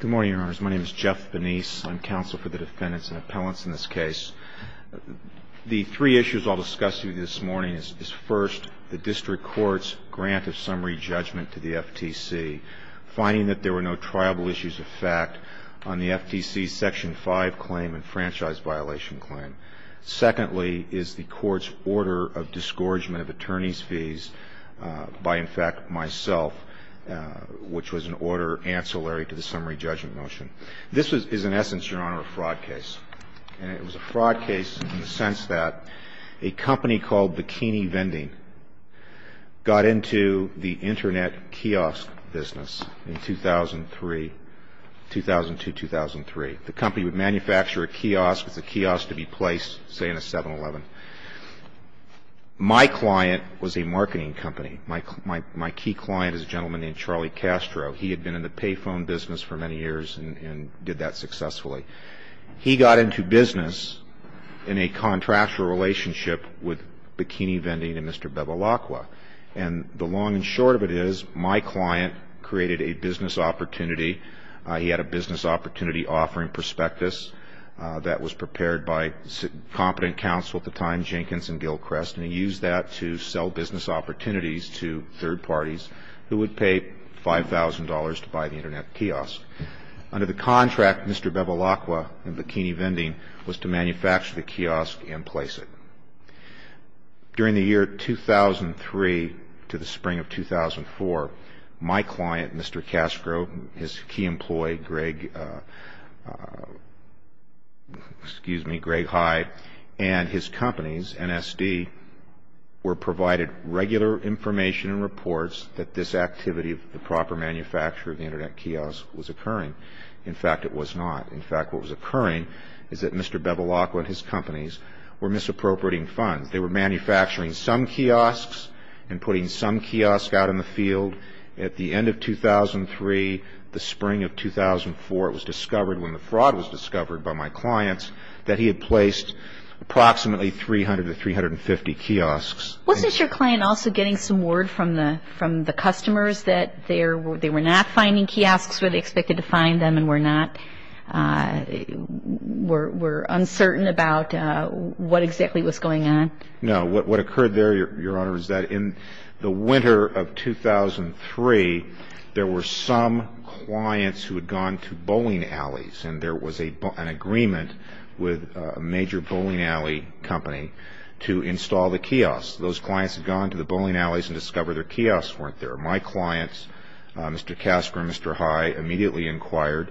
Good morning, Your Honors. My name is Jeff Benice. I'm counsel for the defendants and appellants in this case. The three issues I'll discuss with you this morning is first, the District Court's grant of summary judgment to the FTC, finding that there were no triable issues of fact on the FTC's Section 5 claim and franchise violation claim. Secondly is the Court's order of disgorgement of attorneys' fees by, in fact, myself, which was an order ancillary to the summary judgment motion. This is, in essence, Your Honor, a fraud case. And it was a fraud case in the sense that a company called Bikini Vending got into the Internet kiosk business in 2003, 2002-2003. The company would manufacture a kiosk. It's a kiosk to be placed, say, in a 7-Eleven. My client was a marketing company. My key client is a gentleman named Charlie Castro. He had been in the payphone business for many years and did that successfully. He got into business in a contractual relationship with Bikini Vending and Mr. Bebalacqua. And the long and short of it is my client created a business opportunity. He had a business opportunity offering prospectus that was prepared by competent counsel at the time, Jenkins and Gilchrist, and he used that to sell business opportunities to third parties who would pay $5,000 to buy the Internet kiosk. Under the contract, Mr. Bebalacqua and Bikini Vending was to manufacture the kiosk and place it. During the year 2003 to the spring of 2004, my client, Mr. Castro, his key employee, Greg Hyde, and his companies, NSD, were provided regular information and reports that this activity of the proper manufacture of the Internet kiosk was occurring. In fact, it was not. In fact, what was occurring is that Mr. Bebalacqua and his companies were misappropriating funds. They were manufacturing some kiosks and putting some kiosks out in the field. At the end of 2003, the spring of 2004, it was discovered, when the fraud was discovered by my clients, that he had placed approximately 300 to 350 kiosks. Wasn't your client also getting some word from the customers that they were not finding kiosks where they expected to find them and were uncertain about what exactly was going on? No. What occurred there, Your Honor, was that in the winter of 2003, there were some clients who had gone to bowling alleys, and there was an agreement with a major bowling alley company to install the kiosks. Those clients had gone to the bowling alleys and discovered their kiosks weren't there. My clients, Mr. Casper and Mr. High, immediately inquired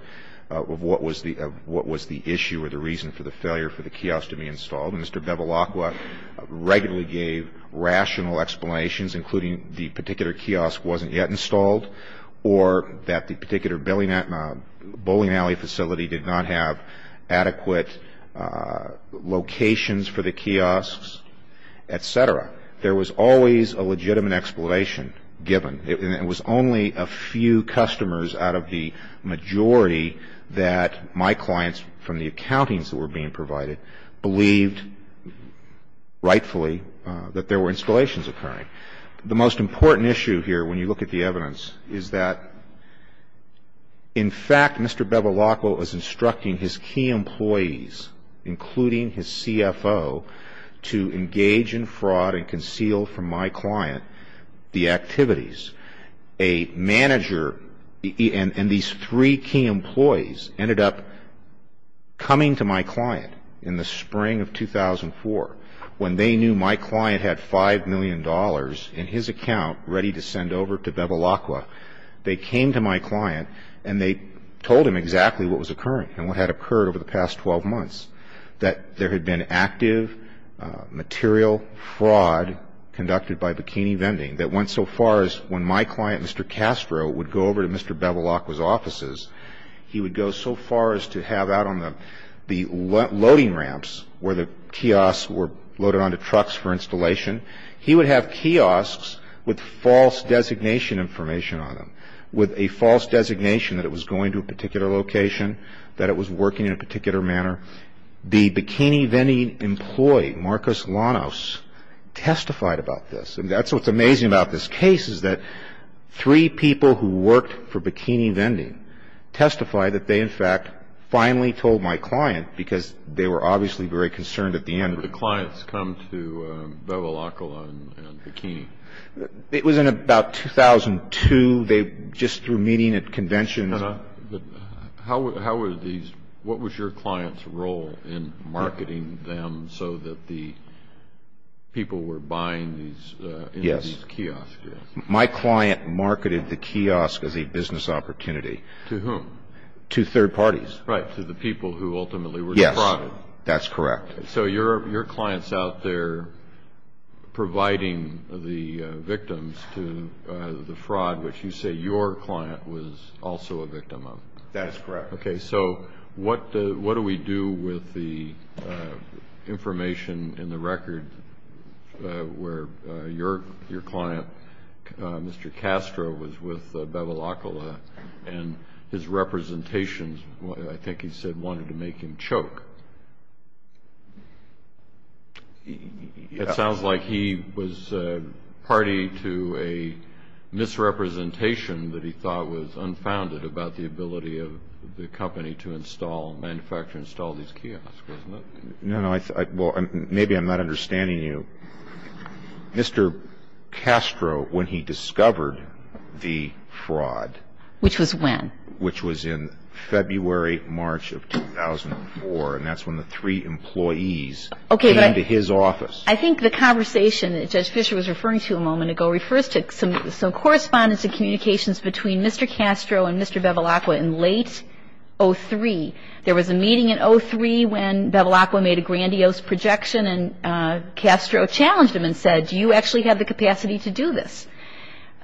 of what was the issue or the reason for the failure for the kiosks to be installed. And Mr. Bebalacqua regularly gave rational explanations, including the particular kiosk wasn't yet installed or that the particular bowling alley facility did not have adequate locations for the kiosks, et cetera. There was always a legitimate explanation given. It was only a few customers out of the majority that my clients, from the accountings that were being provided, believed rightfully that there were installations occurring. The most important issue here, when you look at the evidence, is that, in fact, Mr. Bebalacqua was instructing his key employees, including his CFO, to engage in fraud and conceal from my client the activities. A manager and these three key employees ended up coming to my client in the spring of 2004, when they knew my client had $5 million in his account ready to send over to Bebalacqua. They came to my client and they told him exactly what was occurring and what had occurred over the past 12 months, that there had been active material fraud conducted by Bikini Vending that went so far as when my client, Mr. Castro, would go over to Mr. Bebalacqua's offices, he would go so far as to have out on the loading ramps where the kiosks were loaded onto trucks for installation, he would have kiosks with false designation information on them, with a false designation that it was going to a particular location, that it was working in a particular manner. The Bikini Vending employee, Marcus Lanos, testified about this. And that's what's amazing about this case is that three people who worked for Bikini Vending testified that they, in fact, finally told my client because they were obviously very concerned at the end. When did the clients come to Bebalacqua and Bikini? It was in about 2002. They just were meeting at conventions. What was your client's role in marketing them so that the people were buying these kiosks? Yes. My client marketed the kiosk as a business opportunity. To whom? To third parties. Right, to the people who ultimately were the fraud. Yes, that's correct. So your client's out there providing the victims to the fraud, which you say your client was also a victim of. That's correct. Okay, so what do we do with the information in the record where your client, Mr. Castro, was with Bebalacqua and his representations, I think he said, wanted to make him choke? It sounds like he was party to a misrepresentation that he thought was unfounded about the ability of the company to install, manufacture and install these kiosks, wasn't it? No, no. Well, maybe I'm not understanding you. Mr. Castro, when he discovered the fraud. Which was when? Which was in February, March of 2004, and that's when the three employees came to his office. I think the conversation that Judge Fischer was referring to a moment ago refers to some correspondence and communications between Mr. Castro and Mr. Bebalacqua in late 03. There was a meeting in 03 when Bebalacqua made a grandiose projection and Castro challenged him and said, do you actually have the capacity to do this?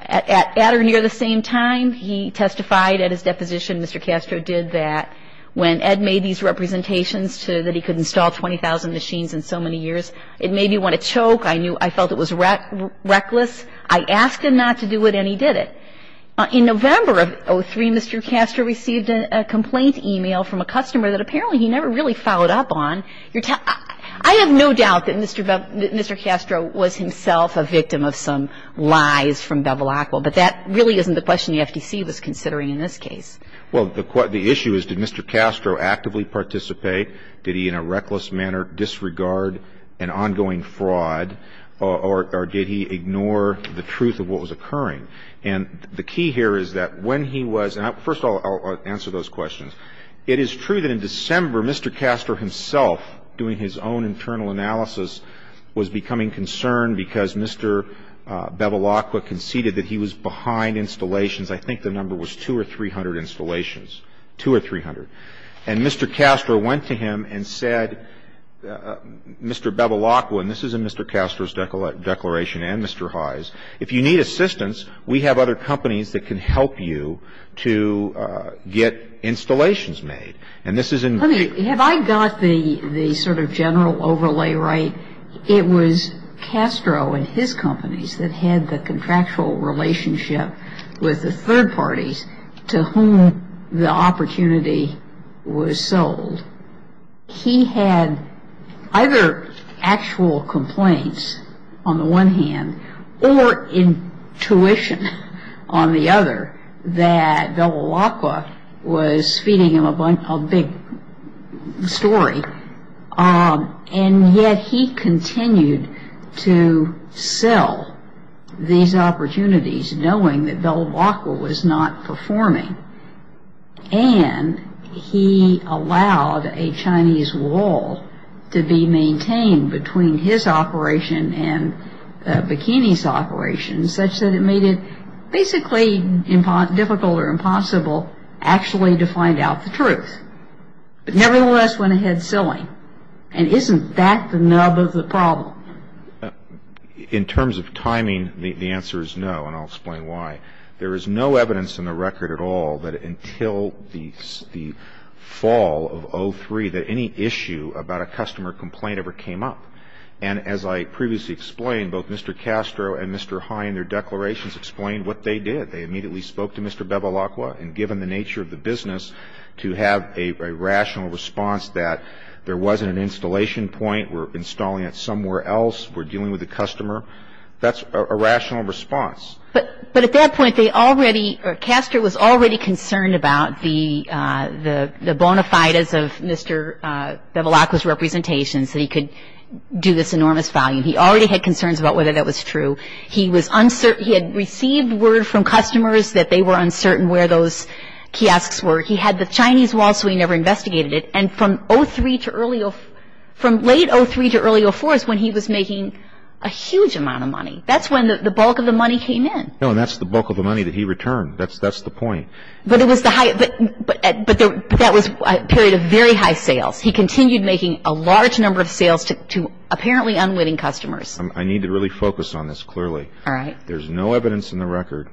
At or near the same time, he testified at his deposition, Mr. Castro did that, when Ed made these representations that he could install 20,000 machines in so many years, it made me want to choke. I felt it was reckless. I asked him not to do it and he did it. In November of 03, Mr. Castro received a complaint email from a customer that apparently he never really followed up on. I have no doubt that Mr. Castro was himself a victim of some lies from Bebalacqua, but that really isn't the question the FTC was considering in this case. Well, the issue is, did Mr. Castro actively participate? Did he in a reckless manner disregard an ongoing fraud or did he ignore the truth of what was occurring? And the key here is that when he was, and first of all, I'll answer those questions. It is true that in December, Mr. Castro himself, doing his own internal analysis, was becoming concerned because Mr. Bebalacqua conceded that he was behind installations. I think the number was 200 or 300 installations, 200 or 300. And Mr. Castro went to him and said, Mr. Bebalacqua, and this is in Mr. Castro's declaration and Mr. Heye's, if you need assistance, we have other companies that can help you to get installations made. And this is in the region. Let me, have I got the sort of general overlay right? It was Castro and his companies that had the contractual relationship with the third parties to whom the opportunity was sold. He had either actual complaints on the one hand or intuition on the other that Bebalacqua was feeding him a big story. And yet he continued to sell these opportunities knowing that Bebalacqua was not performing. And he allowed a Chinese wall to be maintained between his operation and Bikini's operation such that it made it basically difficult or impossible actually to find out the truth. But nevertheless went ahead selling. And isn't that the nub of the problem? In terms of timing, the answer is no, and I'll explain why. There is no evidence in the record at all that until the fall of 03 that any issue about a customer complaint ever came up. And as I previously explained, both Mr. Castro and Mr. Heye in their declarations explained what they did. They immediately spoke to Mr. Bebalacqua and given the nature of the business to have a rational response that there wasn't an installation point, we're installing it somewhere else, we're dealing with a customer. That's a rational response. But at that point, Castro was already concerned about the bona fides of Mr. Bebalacqua's representations that he could do this enormous volume. He already had concerns about whether that was true. He had received word from customers that they were uncertain where those kiosks were. He had the Chinese wall so he never investigated it. And from late 03 to early 04 is when he was making a huge amount of money. That's when the bulk of the money came in. No, and that's the bulk of the money that he returned. That's the point. But that was a period of very high sales. He continued making a large number of sales to apparently unwitting customers. I need to really focus on this clearly. All right. There's no evidence in the record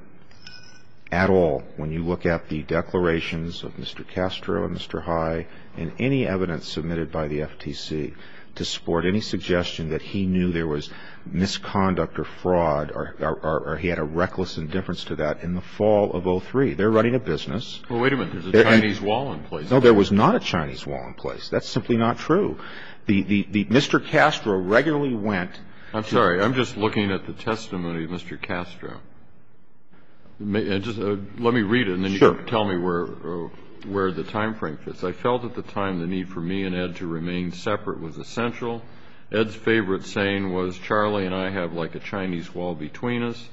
at all when you look at the declarations of Mr. Castro and Mr. Heye in any evidence submitted by the FTC to support any suggestion that he knew there was misconduct or fraud or he had a reckless indifference to that in the fall of 03. They're running a business. Well, wait a minute. There's a Chinese wall in place. No, there was not a Chinese wall in place. That's simply not true. Mr. Castro regularly went to the – I'm sorry. I'm just looking at the testimony of Mr. Castro. Let me read it and then you can tell me where the time frame fits. I felt at the time the need for me and Ed to remain separate was essential. Ed's favorite saying was Charlie and I have like a Chinese wall between us.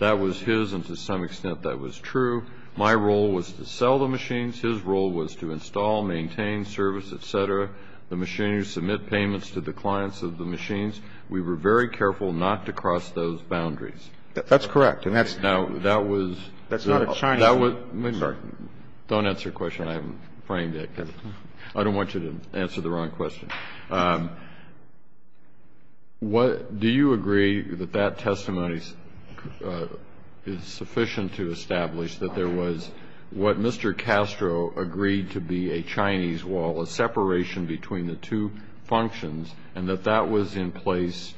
That was his and to some extent that was true. My role was to sell the machines. His role was to install, maintain, service, et cetera. The machinists submit payments to the clients of the machines. We were very careful not to cross those boundaries. That's correct. And that's – That's not a Chinese wall. Sorry. Don't answer the question. I haven't framed it. I don't want you to answer the wrong question. Do you agree that that testimony is sufficient to establish that there was what Mr. Castro agreed to be a Chinese wall, a separation between the two functions, and that that was in place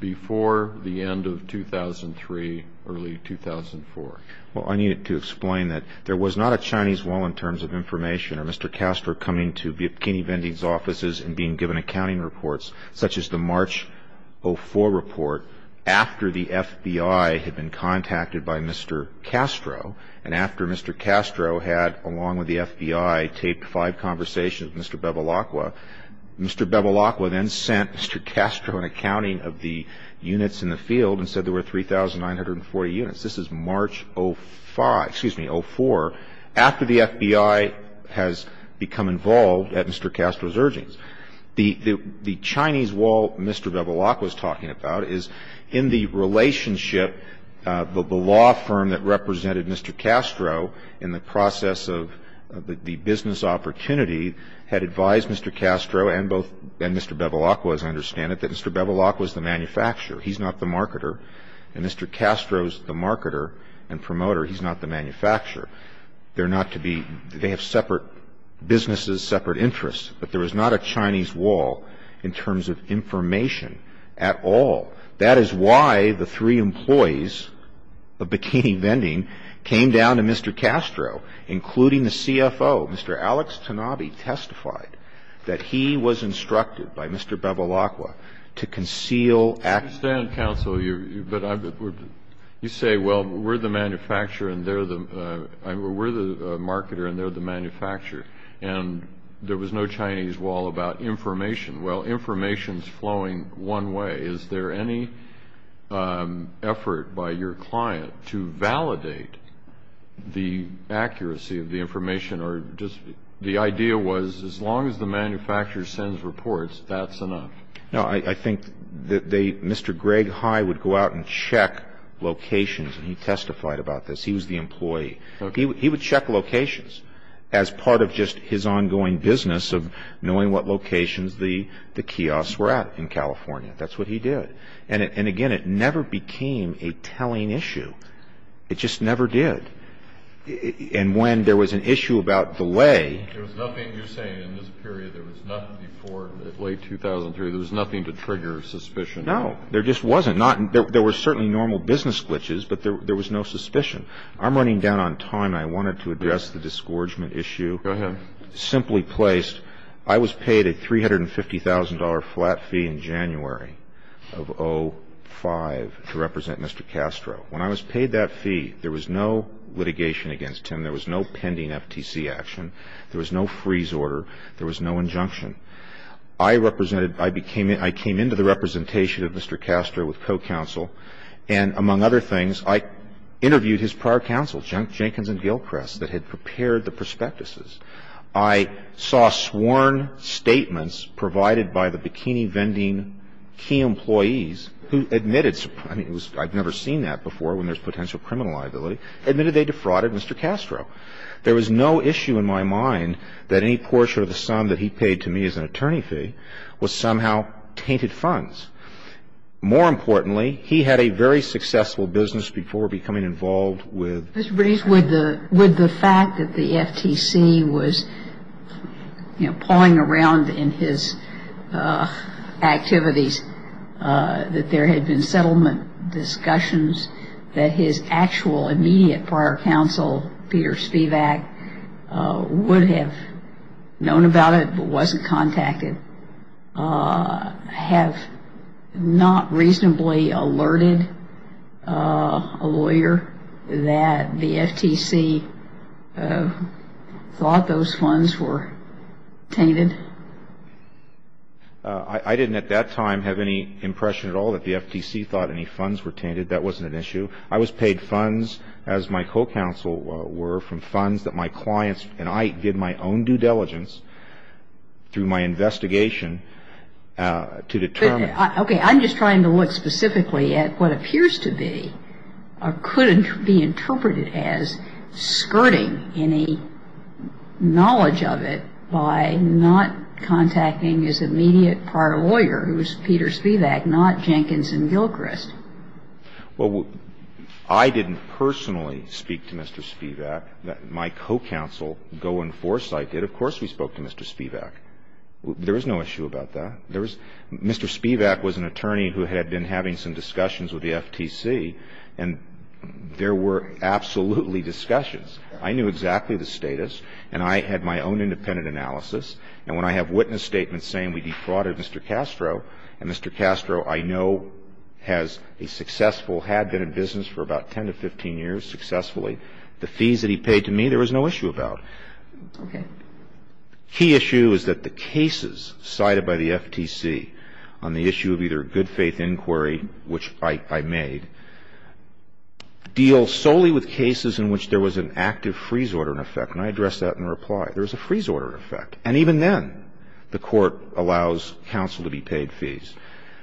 before the end of 2003, early 2004? Well, I need to explain that there was not a Chinese wall in terms of information or Mr. Castro coming to Bikini Vendee's offices and being given accounting reports such as the March 04 report after the FBI had been contacted by Mr. Castro and after Mr. Castro had, along with the FBI, taped five conversations with Mr. Bebalacqua. Mr. Bebalacqua then sent Mr. Castro an accounting of the units in the field and said there were 3,940 units. This is March 05 – excuse me, 04, after the FBI has become involved at Mr. Castro's urgings. The Chinese wall Mr. Bebalacqua is talking about is in the relationship, the law firm that represented Mr. Castro in the process of the business opportunity had advised Mr. Castro and both – and Mr. Bebalacqua, as I understand it, that Mr. Bebalacqua is the manufacturer. He's not the marketer. And Mr. Castro is the marketer and promoter. He's not the manufacturer. They're not to be – they have separate businesses, separate interests. But there was not a Chinese wall in terms of information at all. That is why the three employees of Bikini Vendee came down to Mr. Castro, including the CFO. Mr. Alex Tanabe testified that he was instructed by Mr. Bebalacqua to conceal – I understand, counsel, but you say, well, we're the manufacturer and they're the – we're the marketer and they're the manufacturer, and there was no Chinese wall about information. Well, information is flowing one way. Is there any effort by your client to validate the accuracy of the information or just – the idea was as long as the manufacturer sends reports, that's enough. No, I think that they – Mr. Greg High would go out and check locations, and he testified about this. He was the employee. He would check locations as part of just his ongoing business of knowing what locations the kiosks were at in California. That's what he did. And, again, it never became a telling issue. It just never did. And when there was an issue about the way – There was nothing – you're saying in this period there was nothing before late 2003. There was nothing to trigger suspicion. No, there just wasn't. There were certainly normal business glitches, but there was no suspicion. I'm running down on time, and I wanted to address the disgorgement issue. Go ahead. Simply placed, I was paid a $350,000 flat fee in January of 2005 to represent Mr. Castro. When I was paid that fee, there was no litigation against him. There was no pending FTC action. There was no freeze order. There was no injunction. I represented – I became – I came into the representation of Mr. Castro with co-counsel, and among other things, I interviewed his prior counsel, Jenkins and Gilchrist, that had prepared the prospectuses. I saw sworn statements provided by the bikini-vending key employees who admitted – I mean, it was – I'd never seen that before when there's potential criminal liability – admitted they defrauded Mr. Castro. There was no issue in my mind that any portion of the sum that he paid to me as an attorney fee was somehow tainted funds. More importantly, he had a very successful business before becoming involved with the FTC. Mr. Briggs, would the fact that the FTC was, you know, pawing around in his activities, that there had been settlement discussions, that his actual immediate prior counsel, Peter Spivak, would have known about it but wasn't contacted, have not reasonably alerted a lawyer that the FTC thought those funds were tainted? I didn't at that time have any impression at all that the FTC thought any funds were tainted. That wasn't an issue. I was paid funds, as my co-counsel were, from funds that my clients and I did my own due diligence through my investigation to determine. Okay. I'm just trying to look specifically at what appears to be or could be interpreted as skirting any knowledge of it by not contacting his immediate prior lawyer, who was Peter Spivak, not Jenkins and Gilchrist. Well, I didn't personally speak to Mr. Spivak. My co-counsel, Goin Forsyth, did. Of course we spoke to Mr. Spivak. There was no issue about that. Mr. Spivak was an attorney who had been having some discussions with the FTC, and there were absolutely discussions. I knew exactly the status, and I had my own independent analysis. And when I have witness statements saying we defrauded Mr. Castro, and Mr. Castro I know has a successful, had been in business for about 10 to 15 years successfully, the fees that he paid to me there was no issue about. Okay. The key issue is that the cases cited by the FTC on the issue of either good faith inquiry, which I made, deal solely with cases in which there was an active freeze order in effect. And I addressed that in reply. There was a freeze order in effect. And even then, the Court allows counsel to be paid fees.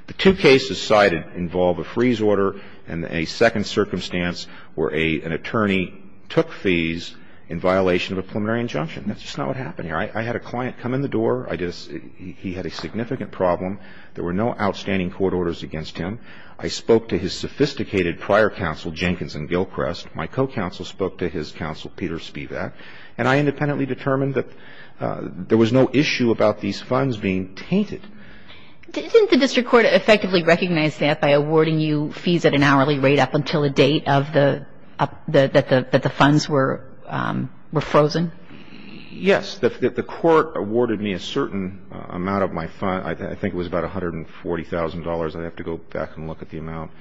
The two cases cited involve a freeze order and a second circumstance where an attorney took fees in violation of a preliminary injunction. That's just not what happened here. I had a client come in the door. He had a significant problem. There were no outstanding court orders against him. I spoke to his sophisticated prior counsel, Jenkins and Gilchrest. My co-counsel spoke to his counsel, Peter Spivak. And I independently determined that there was no issue about these funds being tainted. Didn't the district court effectively recognize that by awarding you fees at an hourly rate up until the date of the up Yes. The court awarded me a certain amount of my funds. I think it was about $140,000. I'd have to go back and look at the amount.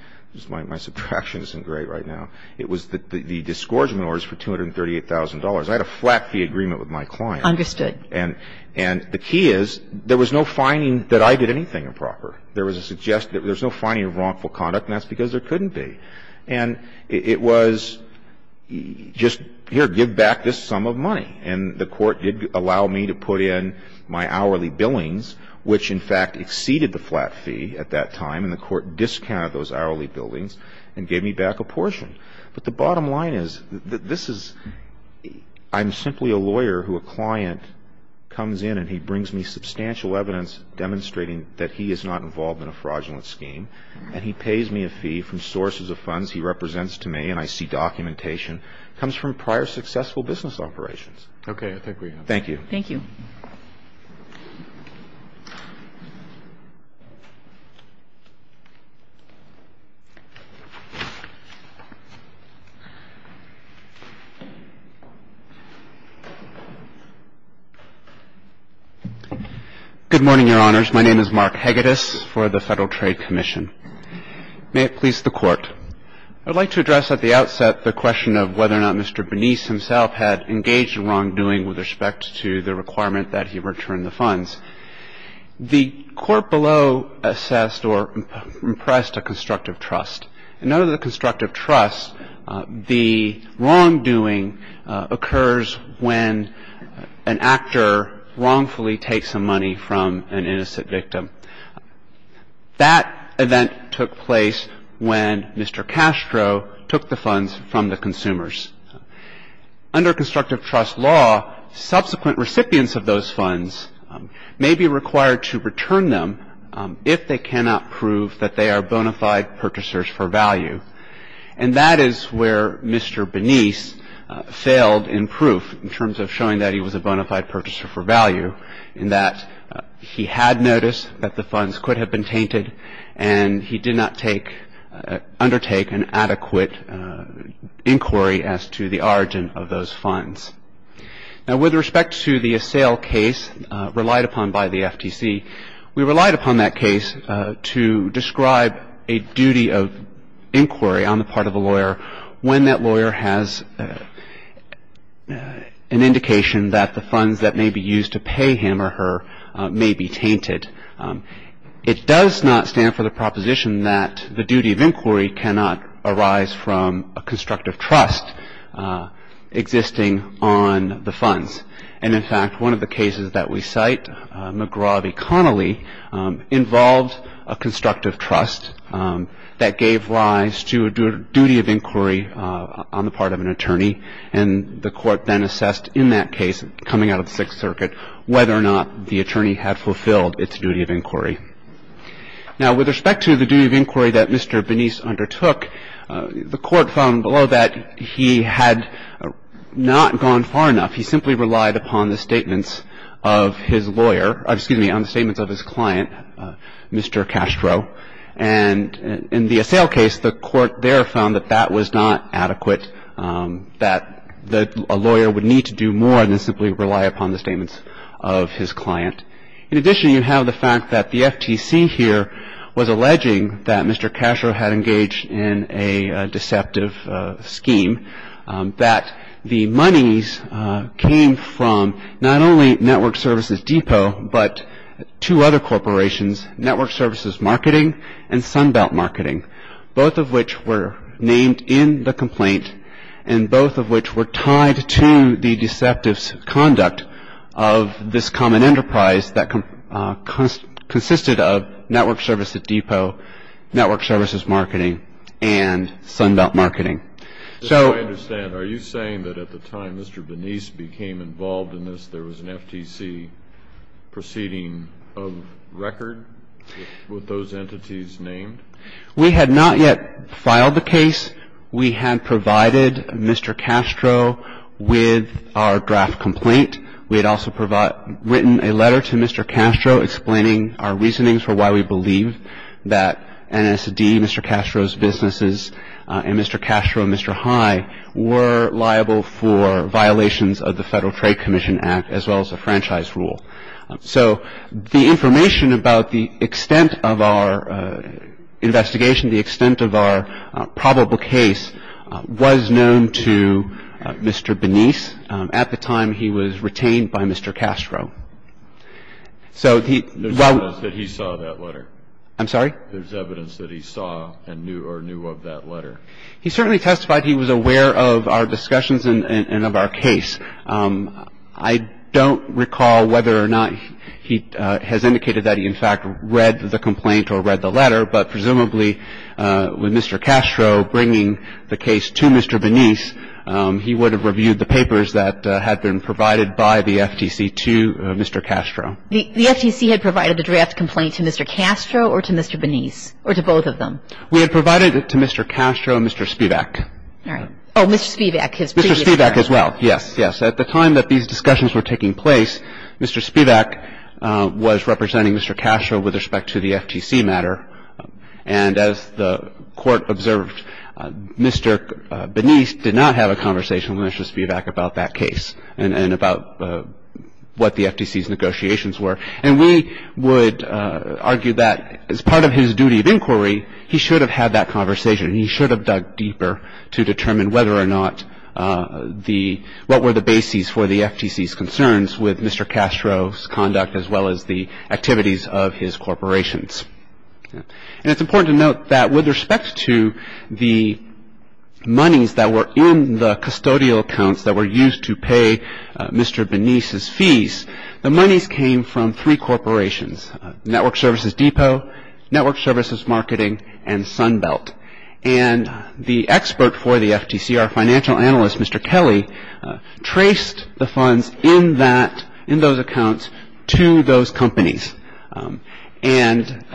My subtraction isn't great right now. It was the disgorgement orders for $238,000. I had a flat fee agreement with my client. Understood. And the key is there was no finding that I did anything improper. There was a suggestion that there was no finding of wrongful conduct, and that's because there couldn't be. And it was just, here, give back this sum of money. And the court did allow me to put in my hourly billings, which, in fact, exceeded the flat fee at that time. And the court discounted those hourly billings and gave me back a portion. But the bottom line is that this is — I'm simply a lawyer who a client comes in and he brings me substantial evidence demonstrating that he is not involved in a fraudulent scheme, and he pays me a fee from sources of funds he represents to me, and I see documentation comes from prior successful business operations. Okay. I think we have time. Thank you. Thank you. Good morning, Your Honors. My name is Mark Hegedus for the Federal Trade Commission. May it please the Court. I would like to address at the outset the question of whether or not Mr. Bernice himself had engaged in wrongdoing with respect to the requirement that he return the funds. The Court below assessed or impressed a constructive trust. And under the constructive trust, the wrongdoing occurs when an actor wrongfully takes some money from an innocent victim. That event took place when Mr. Castro took the funds from the consumers. Under constructive trust law, subsequent recipients of those funds may be required to return them if they cannot prove that they are bona fide purchasers for value. And that is where Mr. Bernice failed in proof in terms of showing that he was a bona fide purchaser for value, in that he had noticed that the funds could have been tainted, and he did not undertake an adequate inquiry as to the origin of those funds. Now, with respect to the assail case relied upon by the FTC, we relied upon that case to describe a duty of inquiry on the part of a lawyer when that lawyer has an indication that the funds that may be used to pay him or her may be tainted. It does not stand for the proposition that the duty of inquiry cannot arise from a constructive trust existing on the funds. And, in fact, one of the cases that we cite, McGraw v. Connolly, involved a constructive trust that gave rise to a duty of inquiry on the part of an attorney. And the court then assessed in that case coming out of the Sixth Circuit whether or not the attorney had fulfilled its duty of inquiry. Now, with respect to the duty of inquiry that Mr. Bernice undertook, the court found below that he had not gone far enough. He simply relied upon the statements of his lawyer — excuse me, on the statements of his client, Mr. Castro. And in the assail case, the court there found that that was not adequate. That a lawyer would need to do more than simply rely upon the statements of his client. In addition, you have the fact that the FTC here was alleging that Mr. Castro had engaged in a deceptive scheme, that the monies came from not only Network Services Depot but two other corporations, Network Services Marketing and Sunbelt Marketing, both of which were named in the complaint and both of which were tied to the deceptive conduct of this common enterprise that consisted of Network Services Depot, Network Services Marketing, and Sunbelt Marketing. So — I understand. Are you saying that at the time Mr. Bernice became involved in this, there was an FTC proceeding of record with those entities named? We had not yet filed the case. We had provided Mr. Castro with our draft complaint. We had also written a letter to Mr. Castro explaining our reasonings for why we believe that NSD, Mr. Castro's businesses, and Mr. Castro and Mr. High were liable for violations of the Federal Trade Commission Act as well as the franchise rule. So the information about the extent of our investigation, the extent of our probable case, was known to Mr. Bernice at the time he was retained by Mr. Castro. So he — There's evidence that he saw that letter. I'm sorry? There's evidence that he saw or knew of that letter. He certainly testified he was aware of our discussions and of our case. I don't recall whether or not he has indicated that he, in fact, read the complaint or read the letter, but presumably with Mr. Castro bringing the case to Mr. Bernice, he would have reviewed the papers that had been provided by the FTC to Mr. Castro. The FTC had provided a draft complaint to Mr. Castro or to Mr. Bernice, or to both of them? We had provided it to Mr. Castro and Mr. Spivak. All right. Oh, Mr. Spivak. Mr. Spivak as well. Yes, yes. At the time that these discussions were taking place, Mr. Spivak was representing Mr. Castro with respect to the FTC matter. And as the Court observed, Mr. Bernice did not have a conversation with Mr. Spivak about that case and about what the FTC's negotiations were. And we would argue that as part of his duty of inquiry, he should have had that conversation. He should have dug deeper to determine whether or not the – what were the bases for the FTC's concerns with Mr. Castro's conduct as well as the activities of his corporations. And it's important to note that with respect to the monies that were in the custodial accounts that were used to pay Mr. Bernice's fees, the monies came from three corporations, Network Services Depot, Network Services Marketing, and Sunbelt. And the expert for the FTC, our financial analyst, Mr. Kelly, traced the funds in that – in those accounts to those companies. And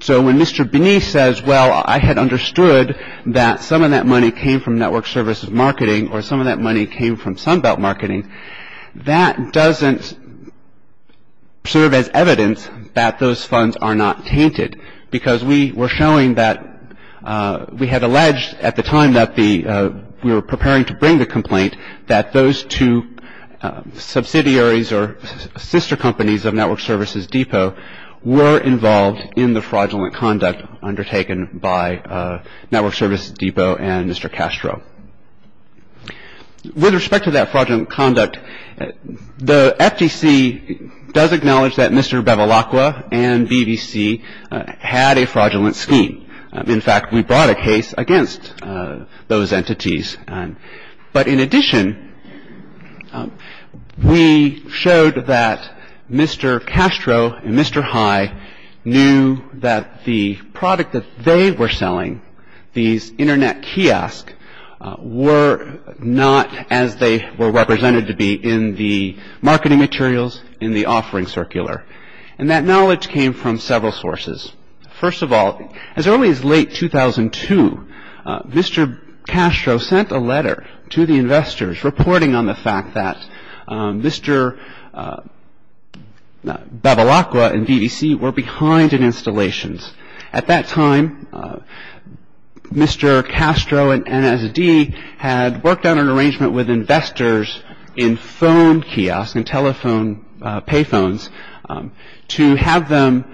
so when Mr. Bernice says, well, I had understood that some of that money came from Network Services Marketing or some of that money came from Sunbelt Marketing, that doesn't serve as evidence that those funds are not tainted because we were showing that we had alleged at the time that we were preparing to bring the complaint that those two subsidiaries or sister companies of Network Services Depot were involved in the fraudulent conduct undertaken by Network Services Depot and Mr. Castro. With respect to that fraudulent conduct, the FTC does acknowledge that Mr. Bevilacqua and BBC had a fraudulent scheme. In fact, we brought a case against those entities. But in addition, we showed that Mr. Castro and Mr. High knew that the product that they were selling, these internet kiosks, were not as they were represented to be in the marketing materials, in the offering circular. And that knowledge came from several sources. First of all, as early as late 2002, Mr. Castro sent a letter to the investors reporting on the fact that Mr. Bevilacqua and BBC were behind in installations. At that time, Mr. Castro and NSD had worked on an arrangement with investors in phone kiosks, in telephone pay phones, to have them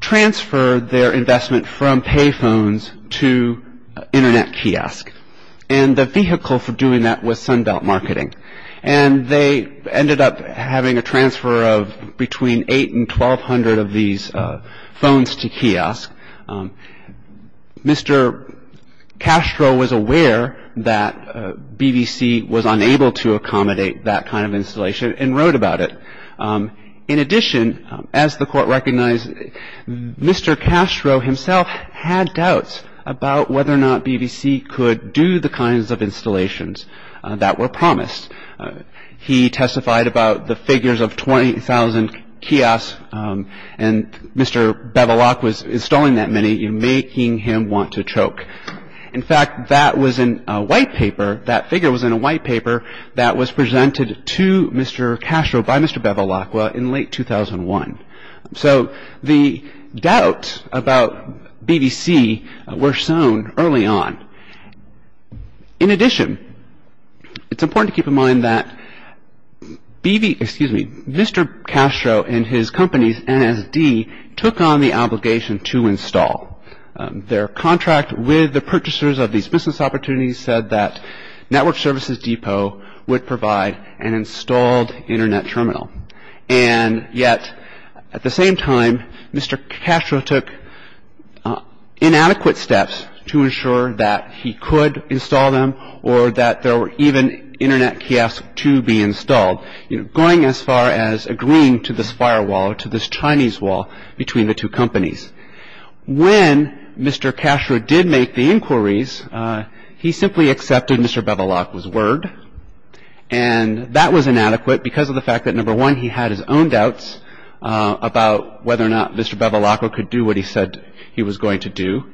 transfer their investment from pay phones to internet kiosks. And the vehicle for doing that was Sunbelt Marketing. And they ended up having a transfer of between 8 and 1,200 of these phones to kiosks. Mr. Castro was aware that BBC was unable to accommodate that kind of installation and wrote about it. In addition, as the Court recognized, Mr. Castro himself had doubts about whether or not BBC could do the kinds of installations that were promised. He testified about the figures of 20,000 kiosks, and Mr. Bevilacqua was installing that many, making him want to choke. In fact, that figure was in a white paper that was presented to Mr. Castro by Mr. Bevilacqua in late 2001. So the doubts about BBC were sown early on. In addition, it's important to keep in mind that Mr. Castro and his company, NSD, took on the obligation to install. Their contract with the purchasers of these business opportunities said that Network Services Depot would provide an installed internet terminal. And yet, at the same time, Mr. Castro took inadequate steps to ensure that he could install them or that there were even internet kiosks to be installed, going as far as agreeing to this firewall, to this Chinese wall between the two companies. When Mr. Castro did make the inquiries, he simply accepted Mr. Bevilacqua's word. And that was inadequate because of the fact that, number one, he had his own doubts about whether or not Mr. Bevilacqua could do what he said he was going to do,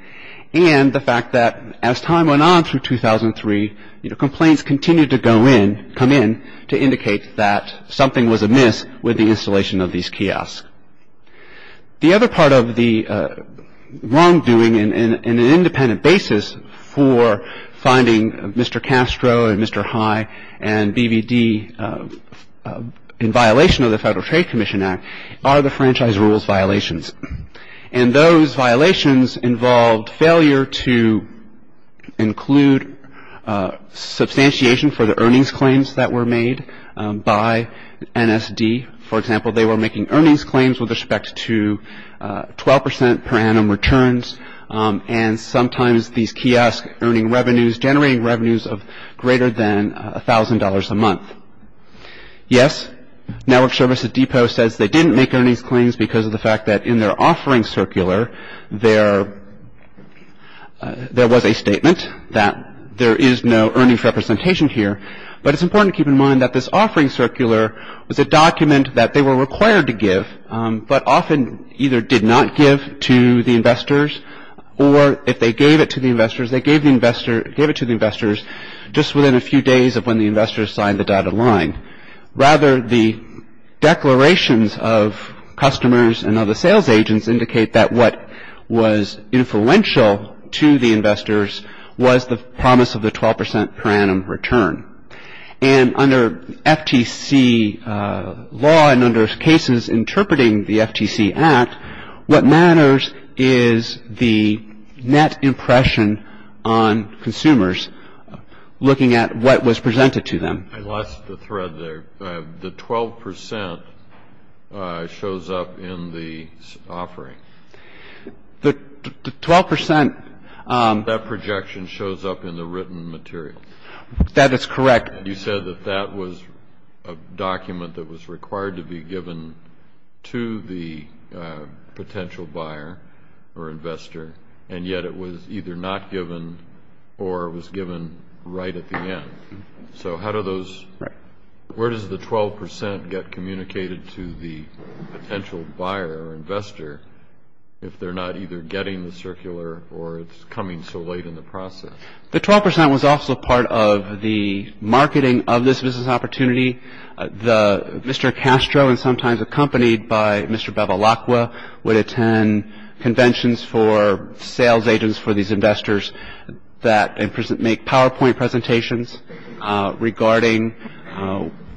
and the fact that, as time went on through 2003, complaints continued to come in to indicate that something was amiss with the installation of these kiosks. The other part of the wrongdoing in an independent basis for finding Mr. Castro and Mr. High and BVD in violation of the Federal Trade Commission Act are the franchise rules violations. And those violations involved failure to include substantiation for the earnings claims that were made by NSD. For example, they were making earnings claims with respect to 12 percent per annum returns, and sometimes these kiosks earning revenues, generating revenues of greater than $1,000 a month. Yes, Network Services Depot says they didn't make earnings claims because of the fact that, in their offering circular, there was a statement that there is no earnings representation here. But it's important to keep in mind that this offering circular was a document that they were required to give, but often either did not give to the investors, or if they gave it to the investors, they gave it to the investors just within a few days of when the investors signed the dotted line. Rather, the declarations of customers and other sales agents indicate that what was influential to the investors was the promise of the 12 percent per annum return. And under FTC law and under cases interpreting the FTC Act, what matters is the net impression on consumers looking at what was presented to them. I lost a thread there. The 12 percent shows up in the offering. The 12 percent. That projection shows up in the written material. That is correct. You said that that was a document that was required to be given to the potential buyer or investor, and yet it was either not given or was given right at the end. So how do those – where does the 12 percent get communicated to the potential buyer or investor if they're not either getting the circular or it's coming so late in the process? The 12 percent was also part of the marketing of this business opportunity. Mr. Castro, and sometimes accompanied by Mr. Bevilacqua, would attend conventions for sales agents for these investors that make PowerPoint presentations regarding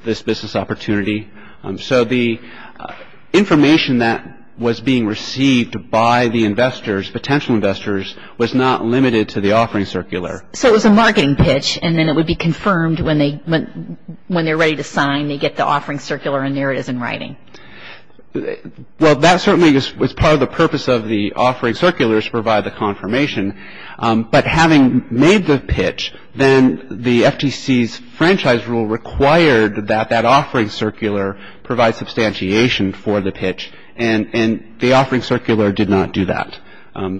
this business opportunity. So the information that was being received by the investors, potential investors, was not limited to the offering circular. So it was a marketing pitch, and then it would be confirmed when they're ready to sign, they get the offering circular, and there it is in writing. Well, that certainly was part of the purpose of the offering circulars to provide the confirmation. But having made the pitch, then the FTC's franchise rule required that that offering circular provide substantiation for the pitch, and the offering circular did not do that.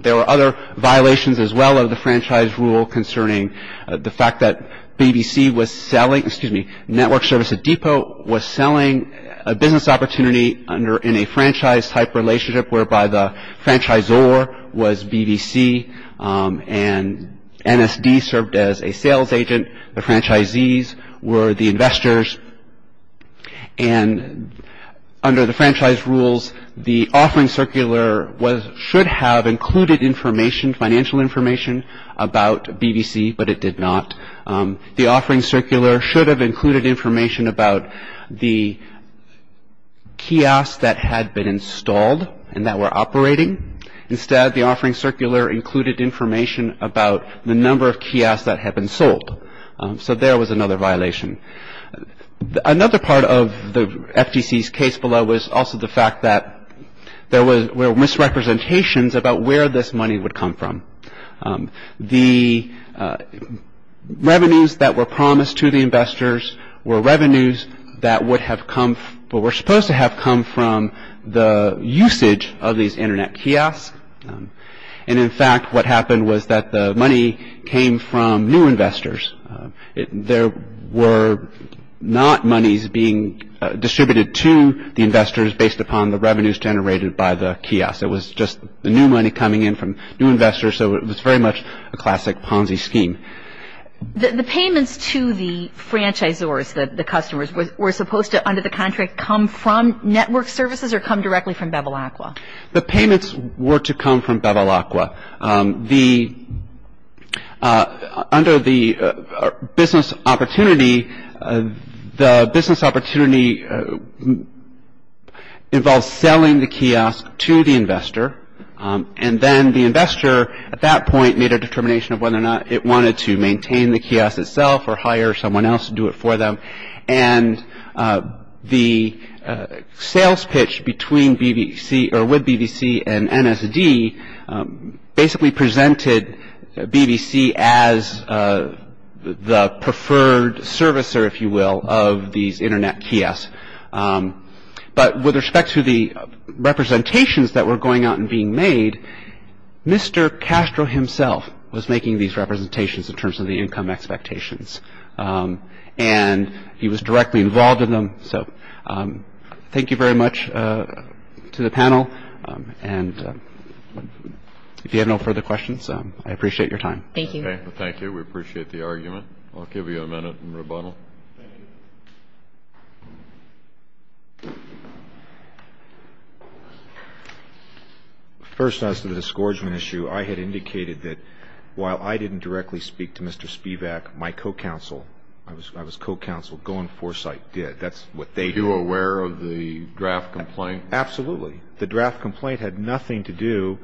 There were other violations as well of the franchise rule concerning the fact that BBC was selling – in a franchise-type relationship whereby the franchisor was BBC, and NSD served as a sales agent. The franchisees were the investors. And under the franchise rules, the offering circular should have included information, financial information, about BBC, but it did not. The offering circular should have included information about the kiosks that had been installed and that were operating. Instead, the offering circular included information about the number of kiosks that had been sold. So there was another violation. Another part of the FTC's case below was also the fact that there were misrepresentations about where this money would come from. The revenues that were promised to the investors were revenues that would have come – but were supposed to have come from the usage of these internet kiosks. And in fact, what happened was that the money came from new investors. There were not monies being distributed to the investors based upon the revenues generated by the kiosks. It was just the new money coming in from new investors. So it was very much a classic Ponzi scheme. The payments to the franchisors, the customers, were supposed to, under the contract, come from network services or come directly from Bevilacqua? The payments were to come from Bevilacqua. Under the business opportunity, the business opportunity involves selling the kiosk to the investor. And then the investor, at that point, made a determination of whether or not it wanted to maintain the kiosk itself or hire someone else to do it for them. And the sales pitch between BVC – or with BVC and NSD basically presented BVC as the preferred servicer, if you will, of these internet kiosks. But with respect to the representations that were going out and being made, Mr. Castro himself was making these representations in terms of the income expectations. And he was directly involved in them. So thank you very much to the panel. And if you have no further questions, I appreciate your time. Thank you. Thank you. We appreciate the argument. I'll give you a minute in rebuttal. Thank you. First, as to the disgorgement issue, I had indicated that while I didn't directly speak to Mr. Spivak, my co-counsel – I was co-counsel – Goin' Foresight did. That's what they did. Are you aware of the draft complaint? Absolutely. The draft complaint had nothing to do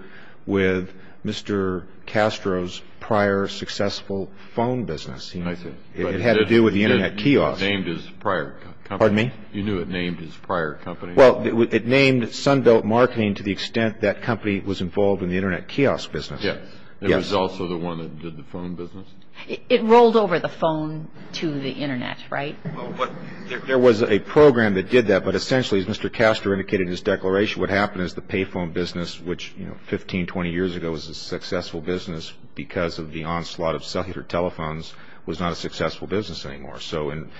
with Mr. Castro's prior successful phone business. I see. It had to do with the internet kiosk. You named his prior company. Pardon me? You knew it named his prior company. Well, it named Sunbelt Marketing to the extent that company was involved in the internet kiosk business. Yes. It was also the one that did the phone business. It rolled over the phone to the internet, right? There was a program that did that. But essentially, as Mr. Castro indicated in his declaration, what happened is the payphone business, which 15, 20 years ago was a successful business because of the onslaught of cellular telephones, was not a successful business anymore. So in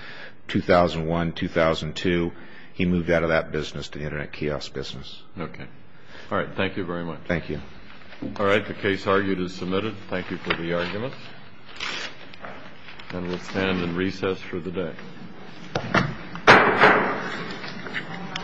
2001, 2002, he moved out of that business to the internet kiosk business. Okay. All right. Thank you very much. Thank you. All right. The case argued is submitted. Thank you for the arguments. And we'll stand in recess for the day.